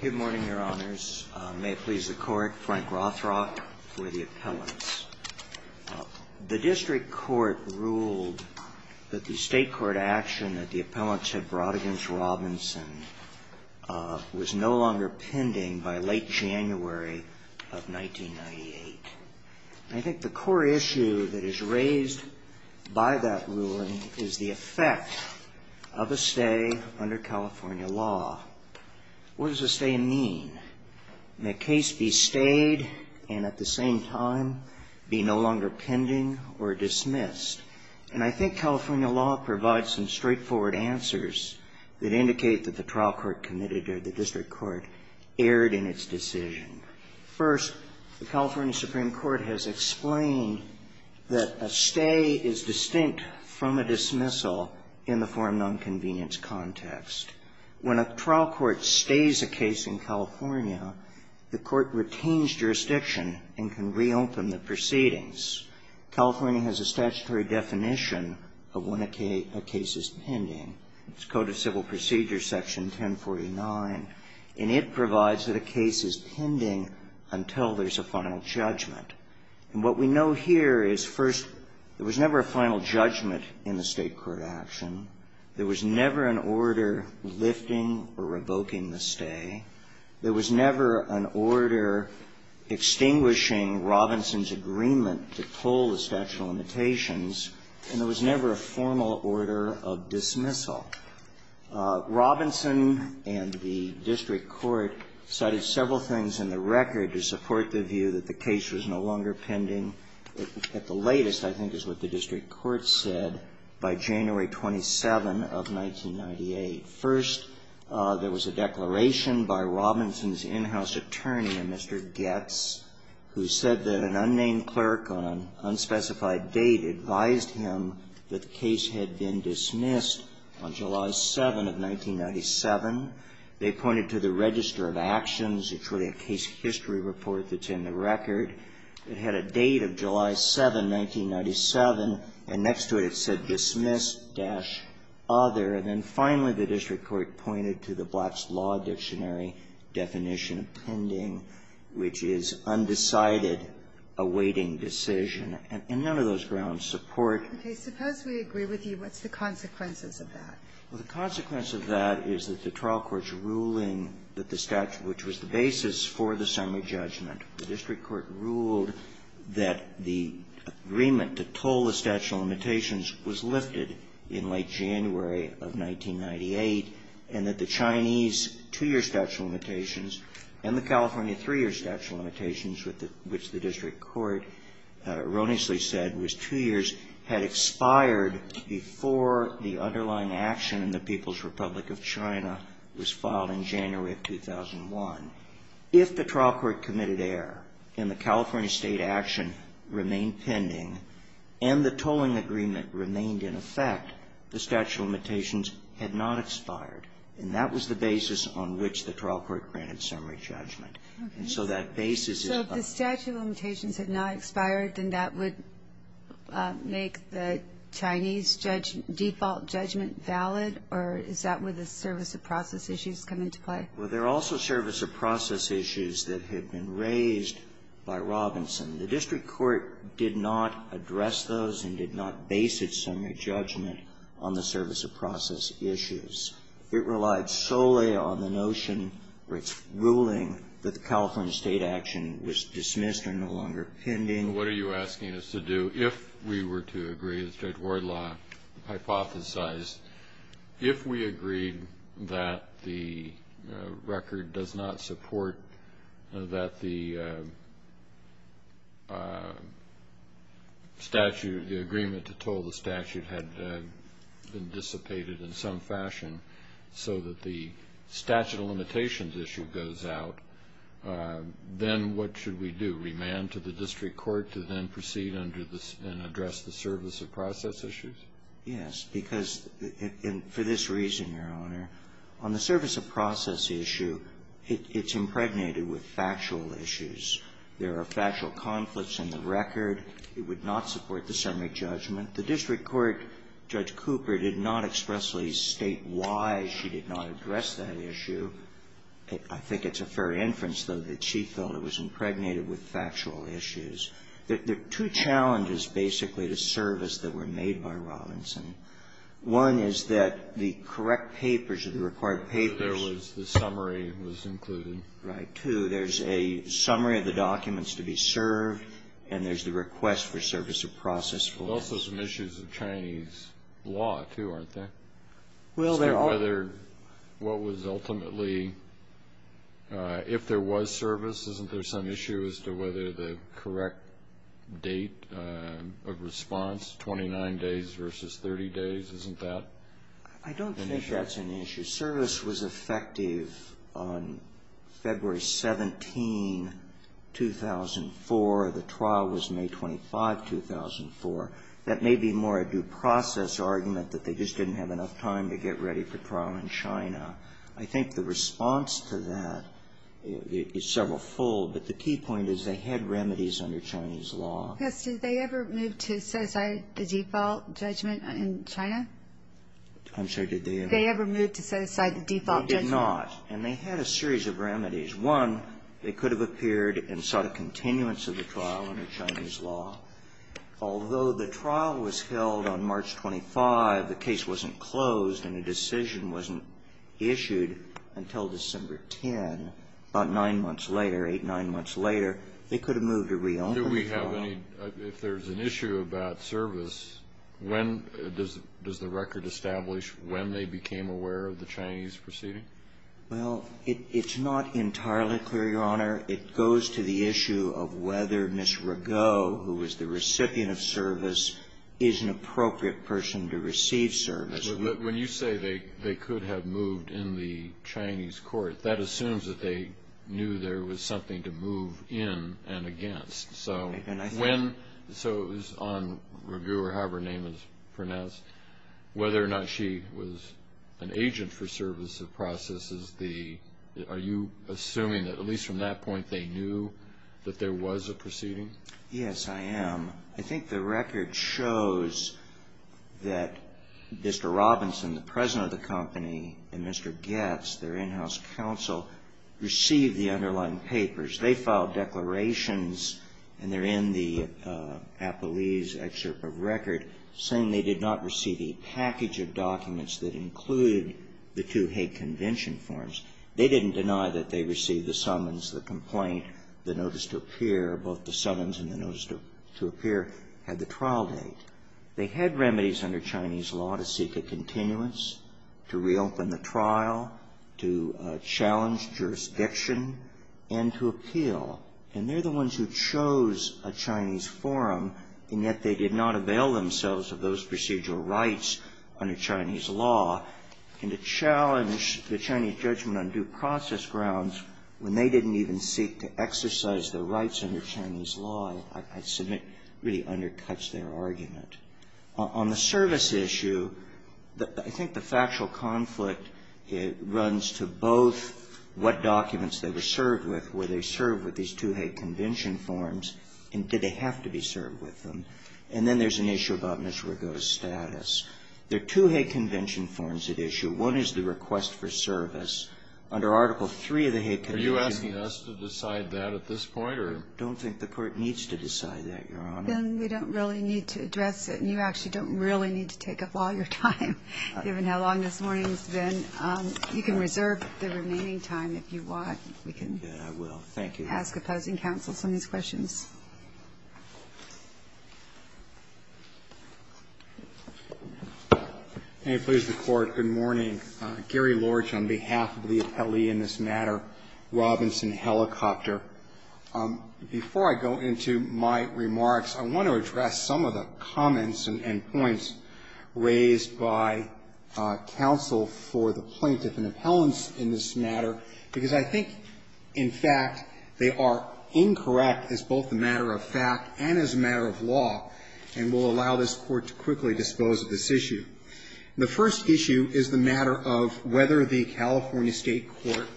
Good morning, your honors. May it please the court, Frank Rothrock for the appellants. The district court ruled that the state court action that the appellants had brought against Robinson was no longer pending by late January of 1998. I think the core issue that is raised by that ruling is the effect of a stay under California law. What does a stay mean? May a case be stayed and at the same time be no longer pending or dismissed? And I think California law provides some straightforward answers that indicate that the trial court committed or the district court erred in its decision. First, the California Supreme Court has explained that a stay is distinct from a dismissal in the form of an unconvenience context. When a trial court stays a case in California, the court retains jurisdiction and can reopen the proceedings. California has a statutory definition of when a case is pending. It's Code of Civil Procedures, Section 1049, and it provides that a case is pending until there's a final judgment. And what we know here is, first, there was never a final judgment in the state court action. There was never an order lifting or revoking the stay. There was never an order extinguishing Robinson's agreement to pull the statute of limitations. And there was never a formal order of dismissal. Robinson and the district court cited several things in the record to support the view that the case was no longer pending at the latest, I think is what the district court said, by January 27 of 1998. First, there was a declaration by Robinson's in-house attorney, a Mr. Goetz, who said that an unnamed clerk on an unspecified date advised him that the case had been dismissed on July 7 of 1997. They pointed to the Register of Actions. It's really a case history report that's in the record. It had a date of July 7, 1997, and next to it, it said, Dismissed-Other. And then finally, the district court pointed to the Black's Law Dictionary definition of pending, which is undecided, awaiting decision. And none of those grounds support. Okay. Suppose we agree with you. What's the consequences of that? Well, the consequence of that is that the trial court's ruling that the statute which was the basis for the summary judgment, the district court ruled that the agreement to pull the statute of limitations was lifted in late January of 1998, and that the Chinese two-year statute of limitations and the California three-year statute of limitations, which the district court erroneously said was two years, had expired before the underlying action in the People's Republic of China was filed in January of 2001. If the trial court committed error and the California State action remained pending and the tolling agreement remained in effect, the statute of limitations had not expired. And that was the basis on which the trial court granted summary judgment. Okay. And so that basis is up. So if the statute of limitations had not expired, then that would make the Chinese judge default judgment valid? Or is that where the service of process issues come into play? Well, there are also service of process issues that have been raised by Robinson. The district court did not address those and did not base its summary judgment on the service of process issues. It relied solely on the notion or its ruling that the California State action was dismissed or no longer pending. What are you asking us to do? If we were to agree as Judge Wardlaw hypothesized, if we agreed that the record does not support that the statute, the agreement to toll the statute had been dissipated in some fashion so that the statute of limitations issue goes out, then what should we do? Remand to the district court to then proceed and address the service of process issues? Yes. Because for this reason, Your Honor, on the service of process issue, it's impregnated with factual issues. There are factual conflicts in the record. It would not support the summary judgment. The district court, Judge Cooper, did not expressly state why she did not address that issue. I think it's a fair inference, though, that she felt it was impregnated with factual issues. There are two challenges, basically, to service that were made by Robinson. One is that the correct papers or the required papers. There was the summary was included. Right. Two, there's a summary of the documents to be served, and there's the request for service of process. There's also some issues of Chinese law, too, aren't there? Is there whether what was ultimately, if there was service, isn't there some issue as to whether the correct date of response, 29 days versus 30 days, isn't that? I don't think that's an issue. Service was effective on February 17, 2004. The trial was May 25, 2004. That may be more a due process argument, that they just didn't have enough time to get ready for trial in China. I think the response to that is several-fold, but the key point is they had remedies under Chinese law. Yes. Did they ever move to set aside the default judgment in China? I'm sorry, did they ever? Did they ever move to set aside the default judgment? They did not. And they had a series of remedies. Stage one, they could have appeared and sought a continuance of the trial under Chinese law. Although the trial was held on March 25, the case wasn't closed and a decision wasn't issued until December 10, about nine months later, eight, nine months later, they could have moved to reopen the trial. Do we have any, if there's an issue about service, when, does the record establish when they became aware of the Chinese proceeding? Well, it's not entirely clear, Your Honor. It goes to the issue of whether Ms. Ragot, who was the recipient of service, is an appropriate person to receive service. When you say they could have moved in the Chinese court, that assumes that they knew there was something to move in and against. So when, so it was on Ragot or however her name is pronounced, whether or not she was an agent for service of processes, are you assuming that at least from that point they knew that there was a proceeding? Yes, I am. I think the record shows that Mr. Robinson, the president of the company, and Mr. Goetz, their in-house counsel, received the underlying papers. They filed declarations, and they're in the appellee's excerpt of record, saying they did not receive a package of documents that included the two Hague Convention forms. They didn't deny that they received the summons, the complaint, the notice to appear. Both the summons and the notice to appear had the trial date. They had remedies under Chinese law to seek a continuance, to reopen the trial, to challenge jurisdiction, and to appeal. And they're the ones who chose a Chinese forum, and yet they did not avail themselves of those procedural rights under Chinese law, and to challenge the Chinese judgment on due process grounds when they didn't even seek to exercise their rights under Chinese law, I submit, really undercuts their argument. On the service issue, I think the factual conflict runs to both what documents they were served with. Were they served with these two Hague Convention forms, and did they have to be served with them? And then there's an issue about Mr. Rigo's status. There are two Hague Convention forms at issue. One is the request for service under Article III of the Hague Convention. Kennedy. Are you asking us to decide that at this point, or? I don't think the Court needs to decide that, Your Honor. Then we don't really need to address it. You actually don't really need to take up all your time, given how long this morning has been. You can reserve the remaining time if you want. We can ask opposing counsel some of these questions. Can you please record? Good morning. Gary Lorsch on behalf of the appellee in this matter, Robinson Helicopter. Before I go into my remarks, I want to address some of the comments and points raised by counsel for the plaintiff and appellants in this matter, because I think, in fact, they are incorrect as both a matter of fact and as a matter of law, and will allow this Court to quickly dispose of this issue. The first issue is the matter of whether the California State court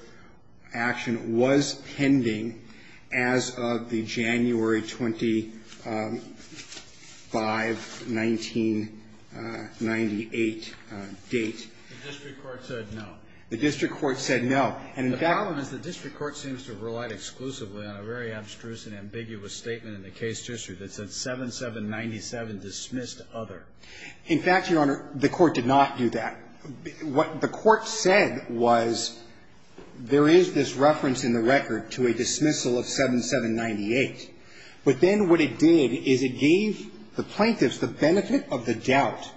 action was pending as of the January 25, 1998, date. The district court said no. The district court said no. And in fact the problem is the district court seems to have relied exclusively on a very abstruse and ambiguous statement in the case history that said 7-7-97 dismissed other. In fact, Your Honor, the court did not do that. What the court said was there is this reference in the record to a dismissal of 7-7-98. But then what it did is it gave the plaintiffs the benefit of the doubt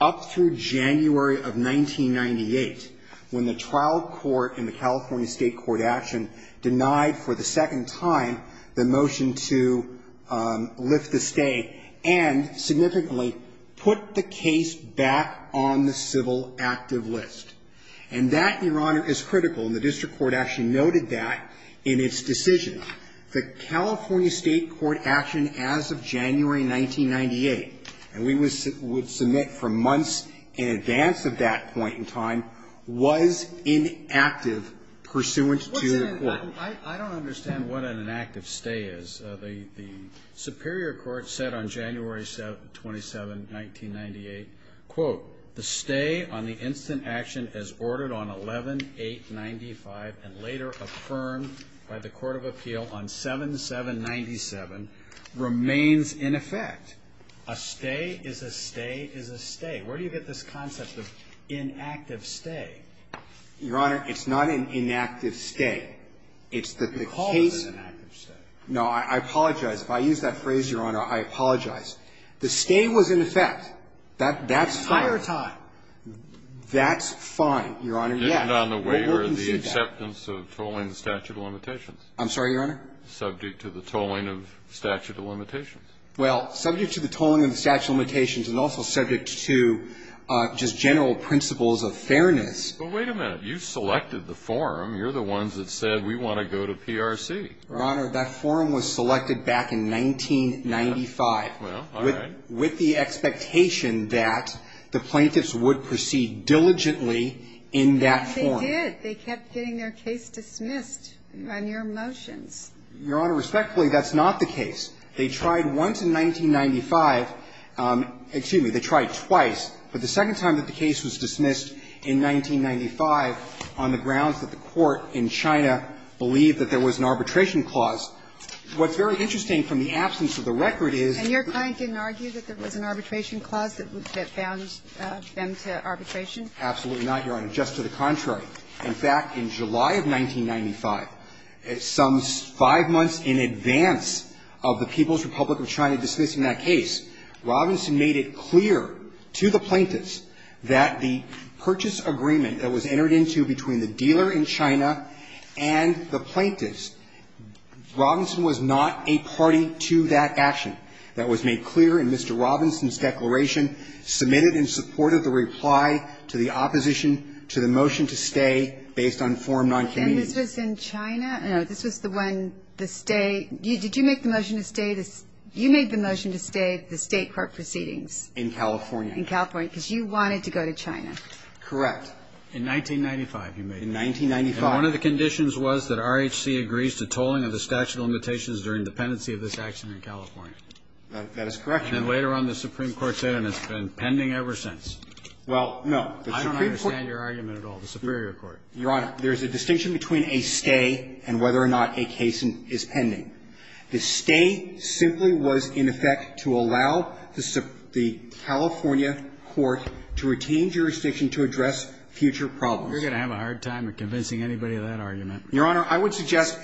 up through January of 1998 when the trial court in the California State court action denied for the second time the motion to lift the stay and significantly put the case back on the civil active list. And that, Your Honor, is critical. And the district court actually noted that in its decision. The California State court action as of January 1998, and we would submit from months in advance of that point in time, was inactive pursuant to the court. I don't understand what an inactive stay is. The Superior Court said on January 27, 1998, quote, the stay on the instant action as ordered on 11-8-95 and later affirmed by the court of appeal on 7-7-97 remains in effect. A stay is a stay is a stay. Where do you get this concept of inactive stay? Your Honor, it's not an inactive stay. It's the case. No, I apologize. If I use that phrase, Your Honor, I apologize. The stay was in effect. That's fine. Entire time. That's fine, Your Honor. Yes. Well, we can see that. Isn't on the waiver the acceptance of tolling the statute of limitations? I'm sorry, Your Honor? Subject to the tolling of statute of limitations. Well, subject to the tolling of the statute of limitations and also subject to just general principles of fairness. Well, wait a minute. You selected the forum. You're the ones that said we want to go to PRC. Your Honor, that forum was selected back in 1995. Well, all right. With the expectation that the plaintiffs would proceed diligently in that forum. They did. They kept getting their case dismissed on your motions. Your Honor, respectfully, that's not the case. They tried once in 1995. Excuse me. They tried twice. But the second time that the case was dismissed in 1995 on the grounds that the court in China believed that there was an arbitration clause, what's very interesting from the absence of the record is that the court in China believed that there was an arbitration clause. And your client didn't argue that there was an arbitration clause that bound them to arbitration? Absolutely not, Your Honor. Just to the contrary. In fact, in July of 1995, some five months in advance of the People's Republic of China dismissing that case, Robinson made it clear to the plaintiffs that the purchase agreement that was entered into between the dealer in China and the plaintiffs, Robinson was not a party to that action. That was made clear in Mr. Robinson's declaration, submitted in support of the reply to the opposition to the motion to stay based on forum noncommittee. And this was in China? No. This was the one, the stay. Did you make the motion to stay? You made the motion to stay the State court proceedings? In California. In California. Because you wanted to go to China. Correct. In 1995, you made it. In 1995. And one of the conditions was that RHC agrees to tolling of the statute of limitations during the pendency of this action in California. That is correct, Your Honor. And then later on the Supreme Court said, and it's been pending ever since. Well, no. I don't understand your argument at all. The Superior Court. Your Honor, there's a distinction between a stay and whether or not a case is pending. The stay simply was in effect to allow the California court to retain jurisdiction to address future problems. You're going to have a hard time convincing anybody of that argument. Your Honor, I would suggest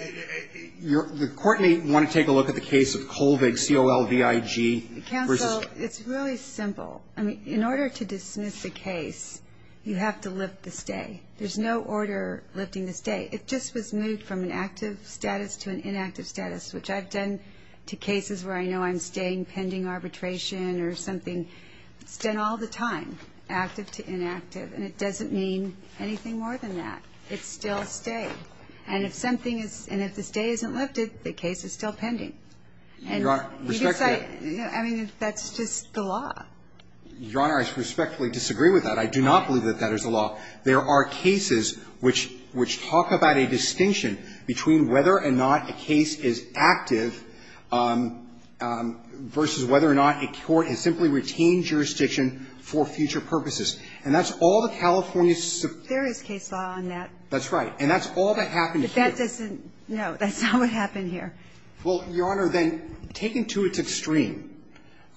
the Court may want to take a look at the case of Colvig, C-O-L-V-I-G. Counsel, it's really simple. I mean, in order to dismiss a case, you have to lift the stay. There's no order lifting the stay. It just was moved from an active status to an inactive status, which I've done to cases where I know I'm staying pending arbitration or something. It's done all the time, active to inactive. And it doesn't mean anything more than that. It's still a stay. And if something is – and if the stay isn't lifted, the case is still pending. And we decide – Your Honor, respectfully – I mean, that's just the law. Your Honor, I respectfully disagree with that. I do not believe that that is the law. There are cases which – which talk about a distinction between whether or not a case is active versus whether or not a court has simply retained jurisdiction for future purposes. And that's all the California – There is case law on that. That's right. And that's all that happened here. But that doesn't – no, that's not what happened here. Well, Your Honor, then, taken to its extreme,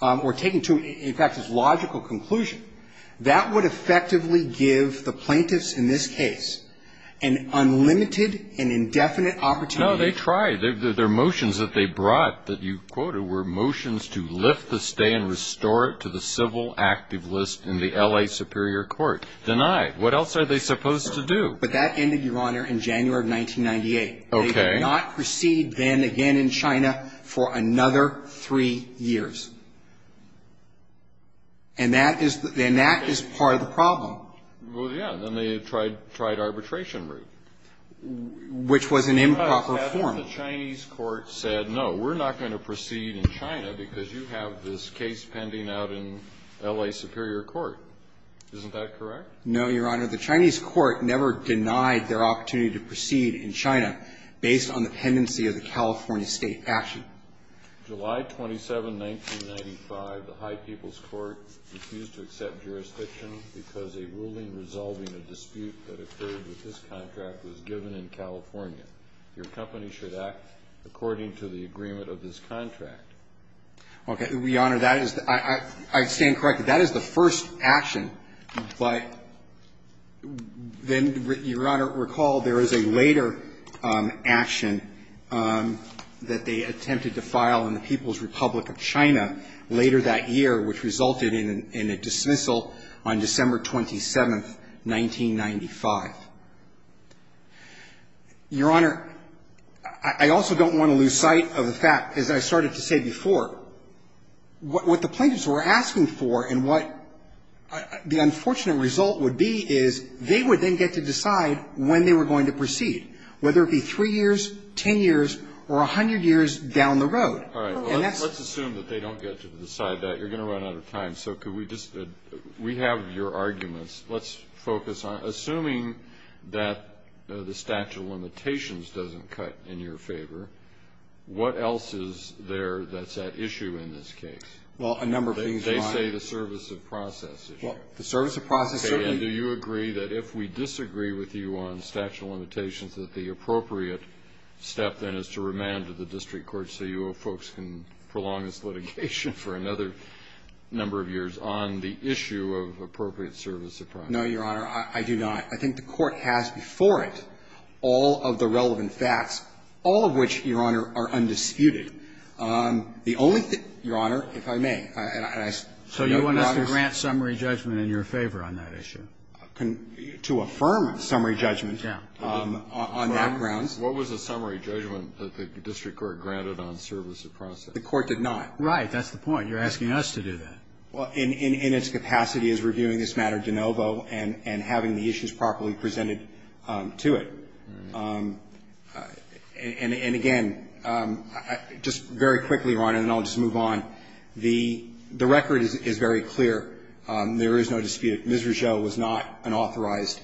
or taken to, in fact, its logical conclusion, that would effectively give the plaintiffs in this case an unlimited and indefinite opportunity – No, they tried. Their motions that they brought that you quoted were motions to lift the stay and restore it to the civil active list in the L.A. Superior Court. Denied. What else are they supposed to do? But that ended, Your Honor, in January of 1998. Okay. They could not proceed then again in China for another three years. And that is the – and that is part of the problem. Well, yeah. Then they tried arbitration route. Which was an improper form. But the Chinese court said, no, we're not going to proceed in China because you have this case pending out in L.A. Superior Court. Isn't that correct? No, Your Honor. The Chinese court never denied their opportunity to proceed in China based on the pendency of the California State action. July 27, 1995, the High People's Court refused to accept jurisdiction because a ruling resolving a dispute that occurred with this contract was given in California. Your company should act according to the agreement of this contract. Okay. Your Honor, that is – I stand corrected. That is the first action. But then, Your Honor, recall there is a later action that they attempted to file in the People's Republic of China later that year, which resulted in a dismissal on December 27, 1995. Your Honor, I also don't want to lose sight of the fact, as I started to say before, what the plaintiffs were asking for and what the unfortunate result would be is they would then get to decide when they were going to proceed, whether it be 3 years, 10 years, or 100 years down the road. All right. Let's assume that they don't get to decide that. You're going to run out of time. So could we just – we have your arguments. Let's focus on assuming that the statute of limitations doesn't cut in your favor, what else is there that's at issue in this case? Well, a number of things, Your Honor. They say the service of process issue. Well, the service of process certainly – Okay. And do you agree that if we disagree with you on the statute of limitations that the appropriate step then is to remand to the district court so you folks can prolong this litigation for another number of years on the issue of appropriate service of process? No, Your Honor. I do not. I think the Court has before it all of the relevant facts, all of which, Your Honor, are undisputed. The only thing – Your Honor, if I may, and I – So you want us to grant summary judgment in your favor on that issue? To affirm summary judgment, yeah, on that grounds. What was the summary judgment that the district court granted on service of process? The Court did not. That's the point. You're asking us to do that. Well, in its capacity as reviewing this matter de novo and having the issues properly presented to it. And again, just very quickly, Your Honor, and then I'll just move on. The record is very clear. There is no dispute. Ms. Rougeau was not an authorized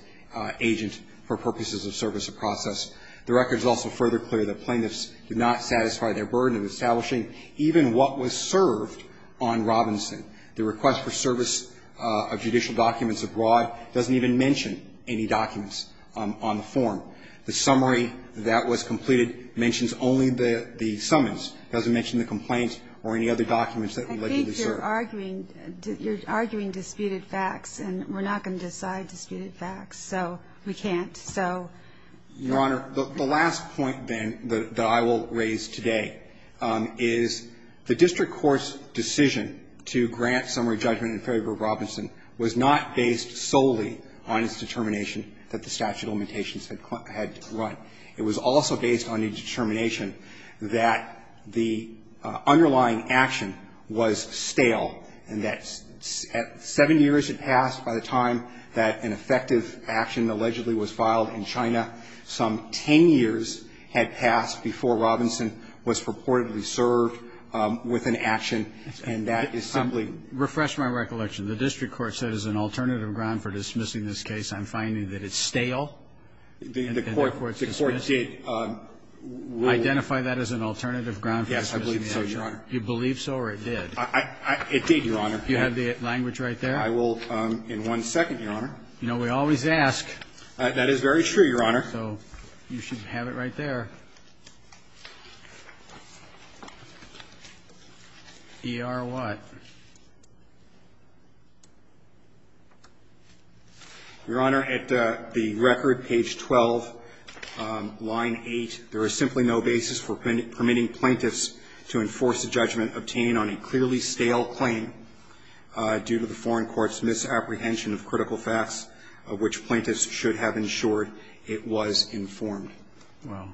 agent for purposes of service of process. The record is also further clear that plaintiffs did not satisfy their burden of establishing even what was served on Robinson. The request for service of judicial documents abroad doesn't even mention any documents on the form. The summary that was completed mentions only the summons, doesn't mention the complaints or any other documents that were allegedly served. I think you're arguing – you're arguing disputed facts, and we're not going to decide disputed facts, so we can't. Your Honor, the last point, then, that I will raise today is the district court's decision to grant summary judgment in favor of Robinson was not based solely on its determination that the statute of limitations had run. It was also based on a determination that the underlying action was stale and that 7 years had passed by the time that an effective action allegedly was filed in China. Some 10 years had passed before Robinson was purportedly served with an action, and that is simply – Refresh my recollection. The district court said as an alternative ground for dismissing this case, I'm finding that it's stale. The court did – Identify that as an alternative ground for dismissing the action. Yes, I believe so, Your Honor. You believe so or it did? It did, Your Honor. Do you have the language right there? I will in one second, Your Honor. No, we always ask. That is very true, Your Honor. So you should have it right there. ER what? Your Honor, at the record, page 12, line 8, there is simply no basis for permitting plaintiffs to enforce a judgment obtained on a clearly stale claim due to the foreign court's misapprehension of critical facts of which plaintiffs should have ensured it was informed. Well,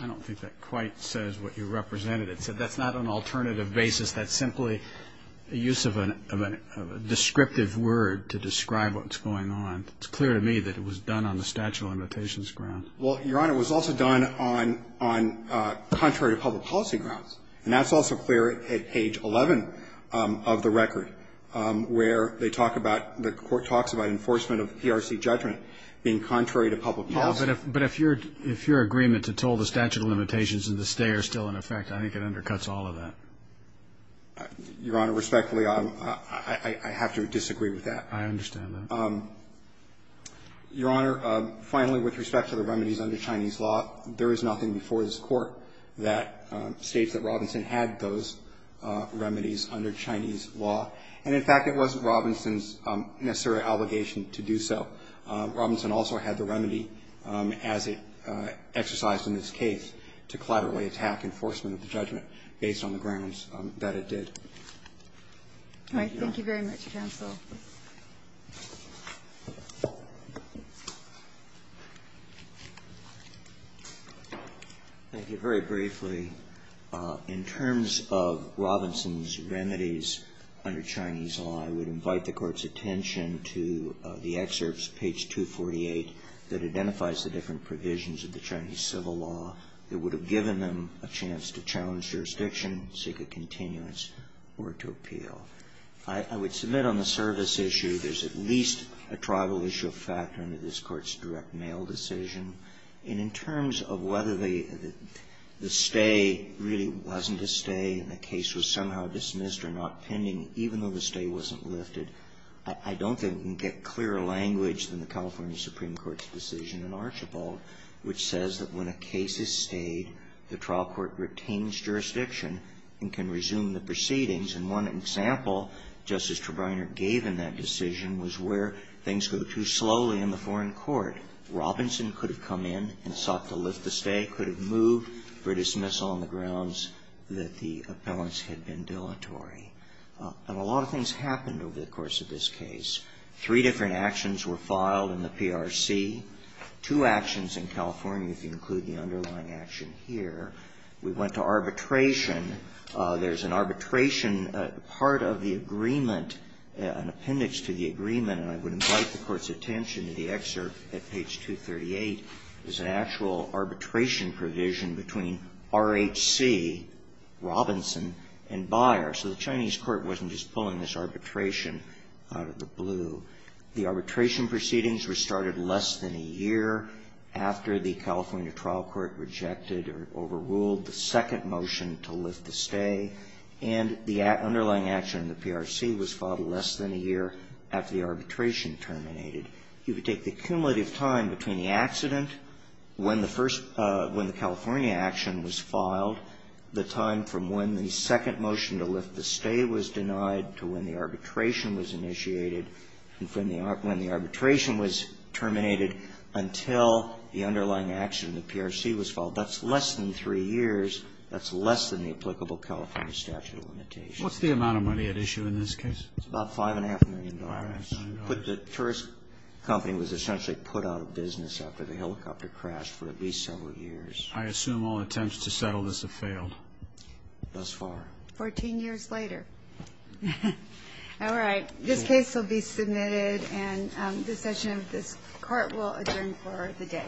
I don't think that quite says what you represented. It said that's not an alternative basis. That's simply a use of a descriptive word to describe what's going on. It's clear to me that it was done on the statute of limitations ground. Well, Your Honor, it was also done on contrary to public policy grounds. And that's also clear at page 11 of the record where they talk about the court talks about enforcement of PRC judgment being contrary to public policy. Yes, but if your agreement to toll the statute of limitations and to stay are still in effect, I think it undercuts all of that. Your Honor, respectfully, I have to disagree with that. I understand that. Your Honor, finally, with respect to the remedies under Chinese law, there is nothing before this Court that states that Robinson had those remedies under Chinese law. And, in fact, it wasn't Robinson's necessary obligation to do so. Robinson also had the remedy, as it exercised in this case, to collaboratively attack enforcement of the judgment based on the grounds that it did. All right. Thank you very much, counsel. Thank you. Very briefly, in terms of Robinson's remedies under Chinese law, I would invite the Court's attention to the excerpts, page 248, that identifies the different provisions of the Chinese civil law that would have given them a chance to challenge jurisdiction, seek a continuance, or to appeal. I would submit on the service issue, there's at least a tribal issue factor under this Court's direct mail decision. And in terms of whether the stay really wasn't a stay and the case was somehow dismissed or not pending, even though the stay wasn't lifted, I don't think we can get clearer language than the California Supreme Court's decision in Archibald, which says that when a case is stayed, the trial court retains jurisdiction and can resume the proceedings. And one example Justice Trebiner gave in that decision was where things go too slowly in the foreign court. Robinson could have come in and sought to lift the stay, could have moved for dismissal on the grounds that the appellants had been dilatory. And a lot of things happened over the course of this case. Three different actions were filed in the PRC. Two actions in California, if you include the underlying action here. We went to arbitration. There's an arbitration part of the agreement, an appendix to the agreement, and I would invite the Court's attention to the excerpt at page 238. There's an actual arbitration provision between RHC, Robinson, and Beyer. So the Chinese court wasn't just pulling this arbitration out of the blue. The arbitration proceedings were started less than a year after the California trial court rejected or overruled the second motion to lift the stay. And the underlying action in the PRC was filed less than a year after the arbitration terminated. You could take the cumulative time between the accident when the California action was filed, the time from when the second motion to lift the stay was terminated, and when the arbitration was terminated until the underlying action in the PRC was filed. That's less than three years. That's less than the applicable California statute of limitations. What's the amount of money at issue in this case? It's about $5.5 million. The first company was essentially put out of business after the helicopter crashed for at least several years. I assume all attempts to settle this have failed. Thus far. Fourteen years later. All right. This case will be submitted, and the session of this Court will adjourn for the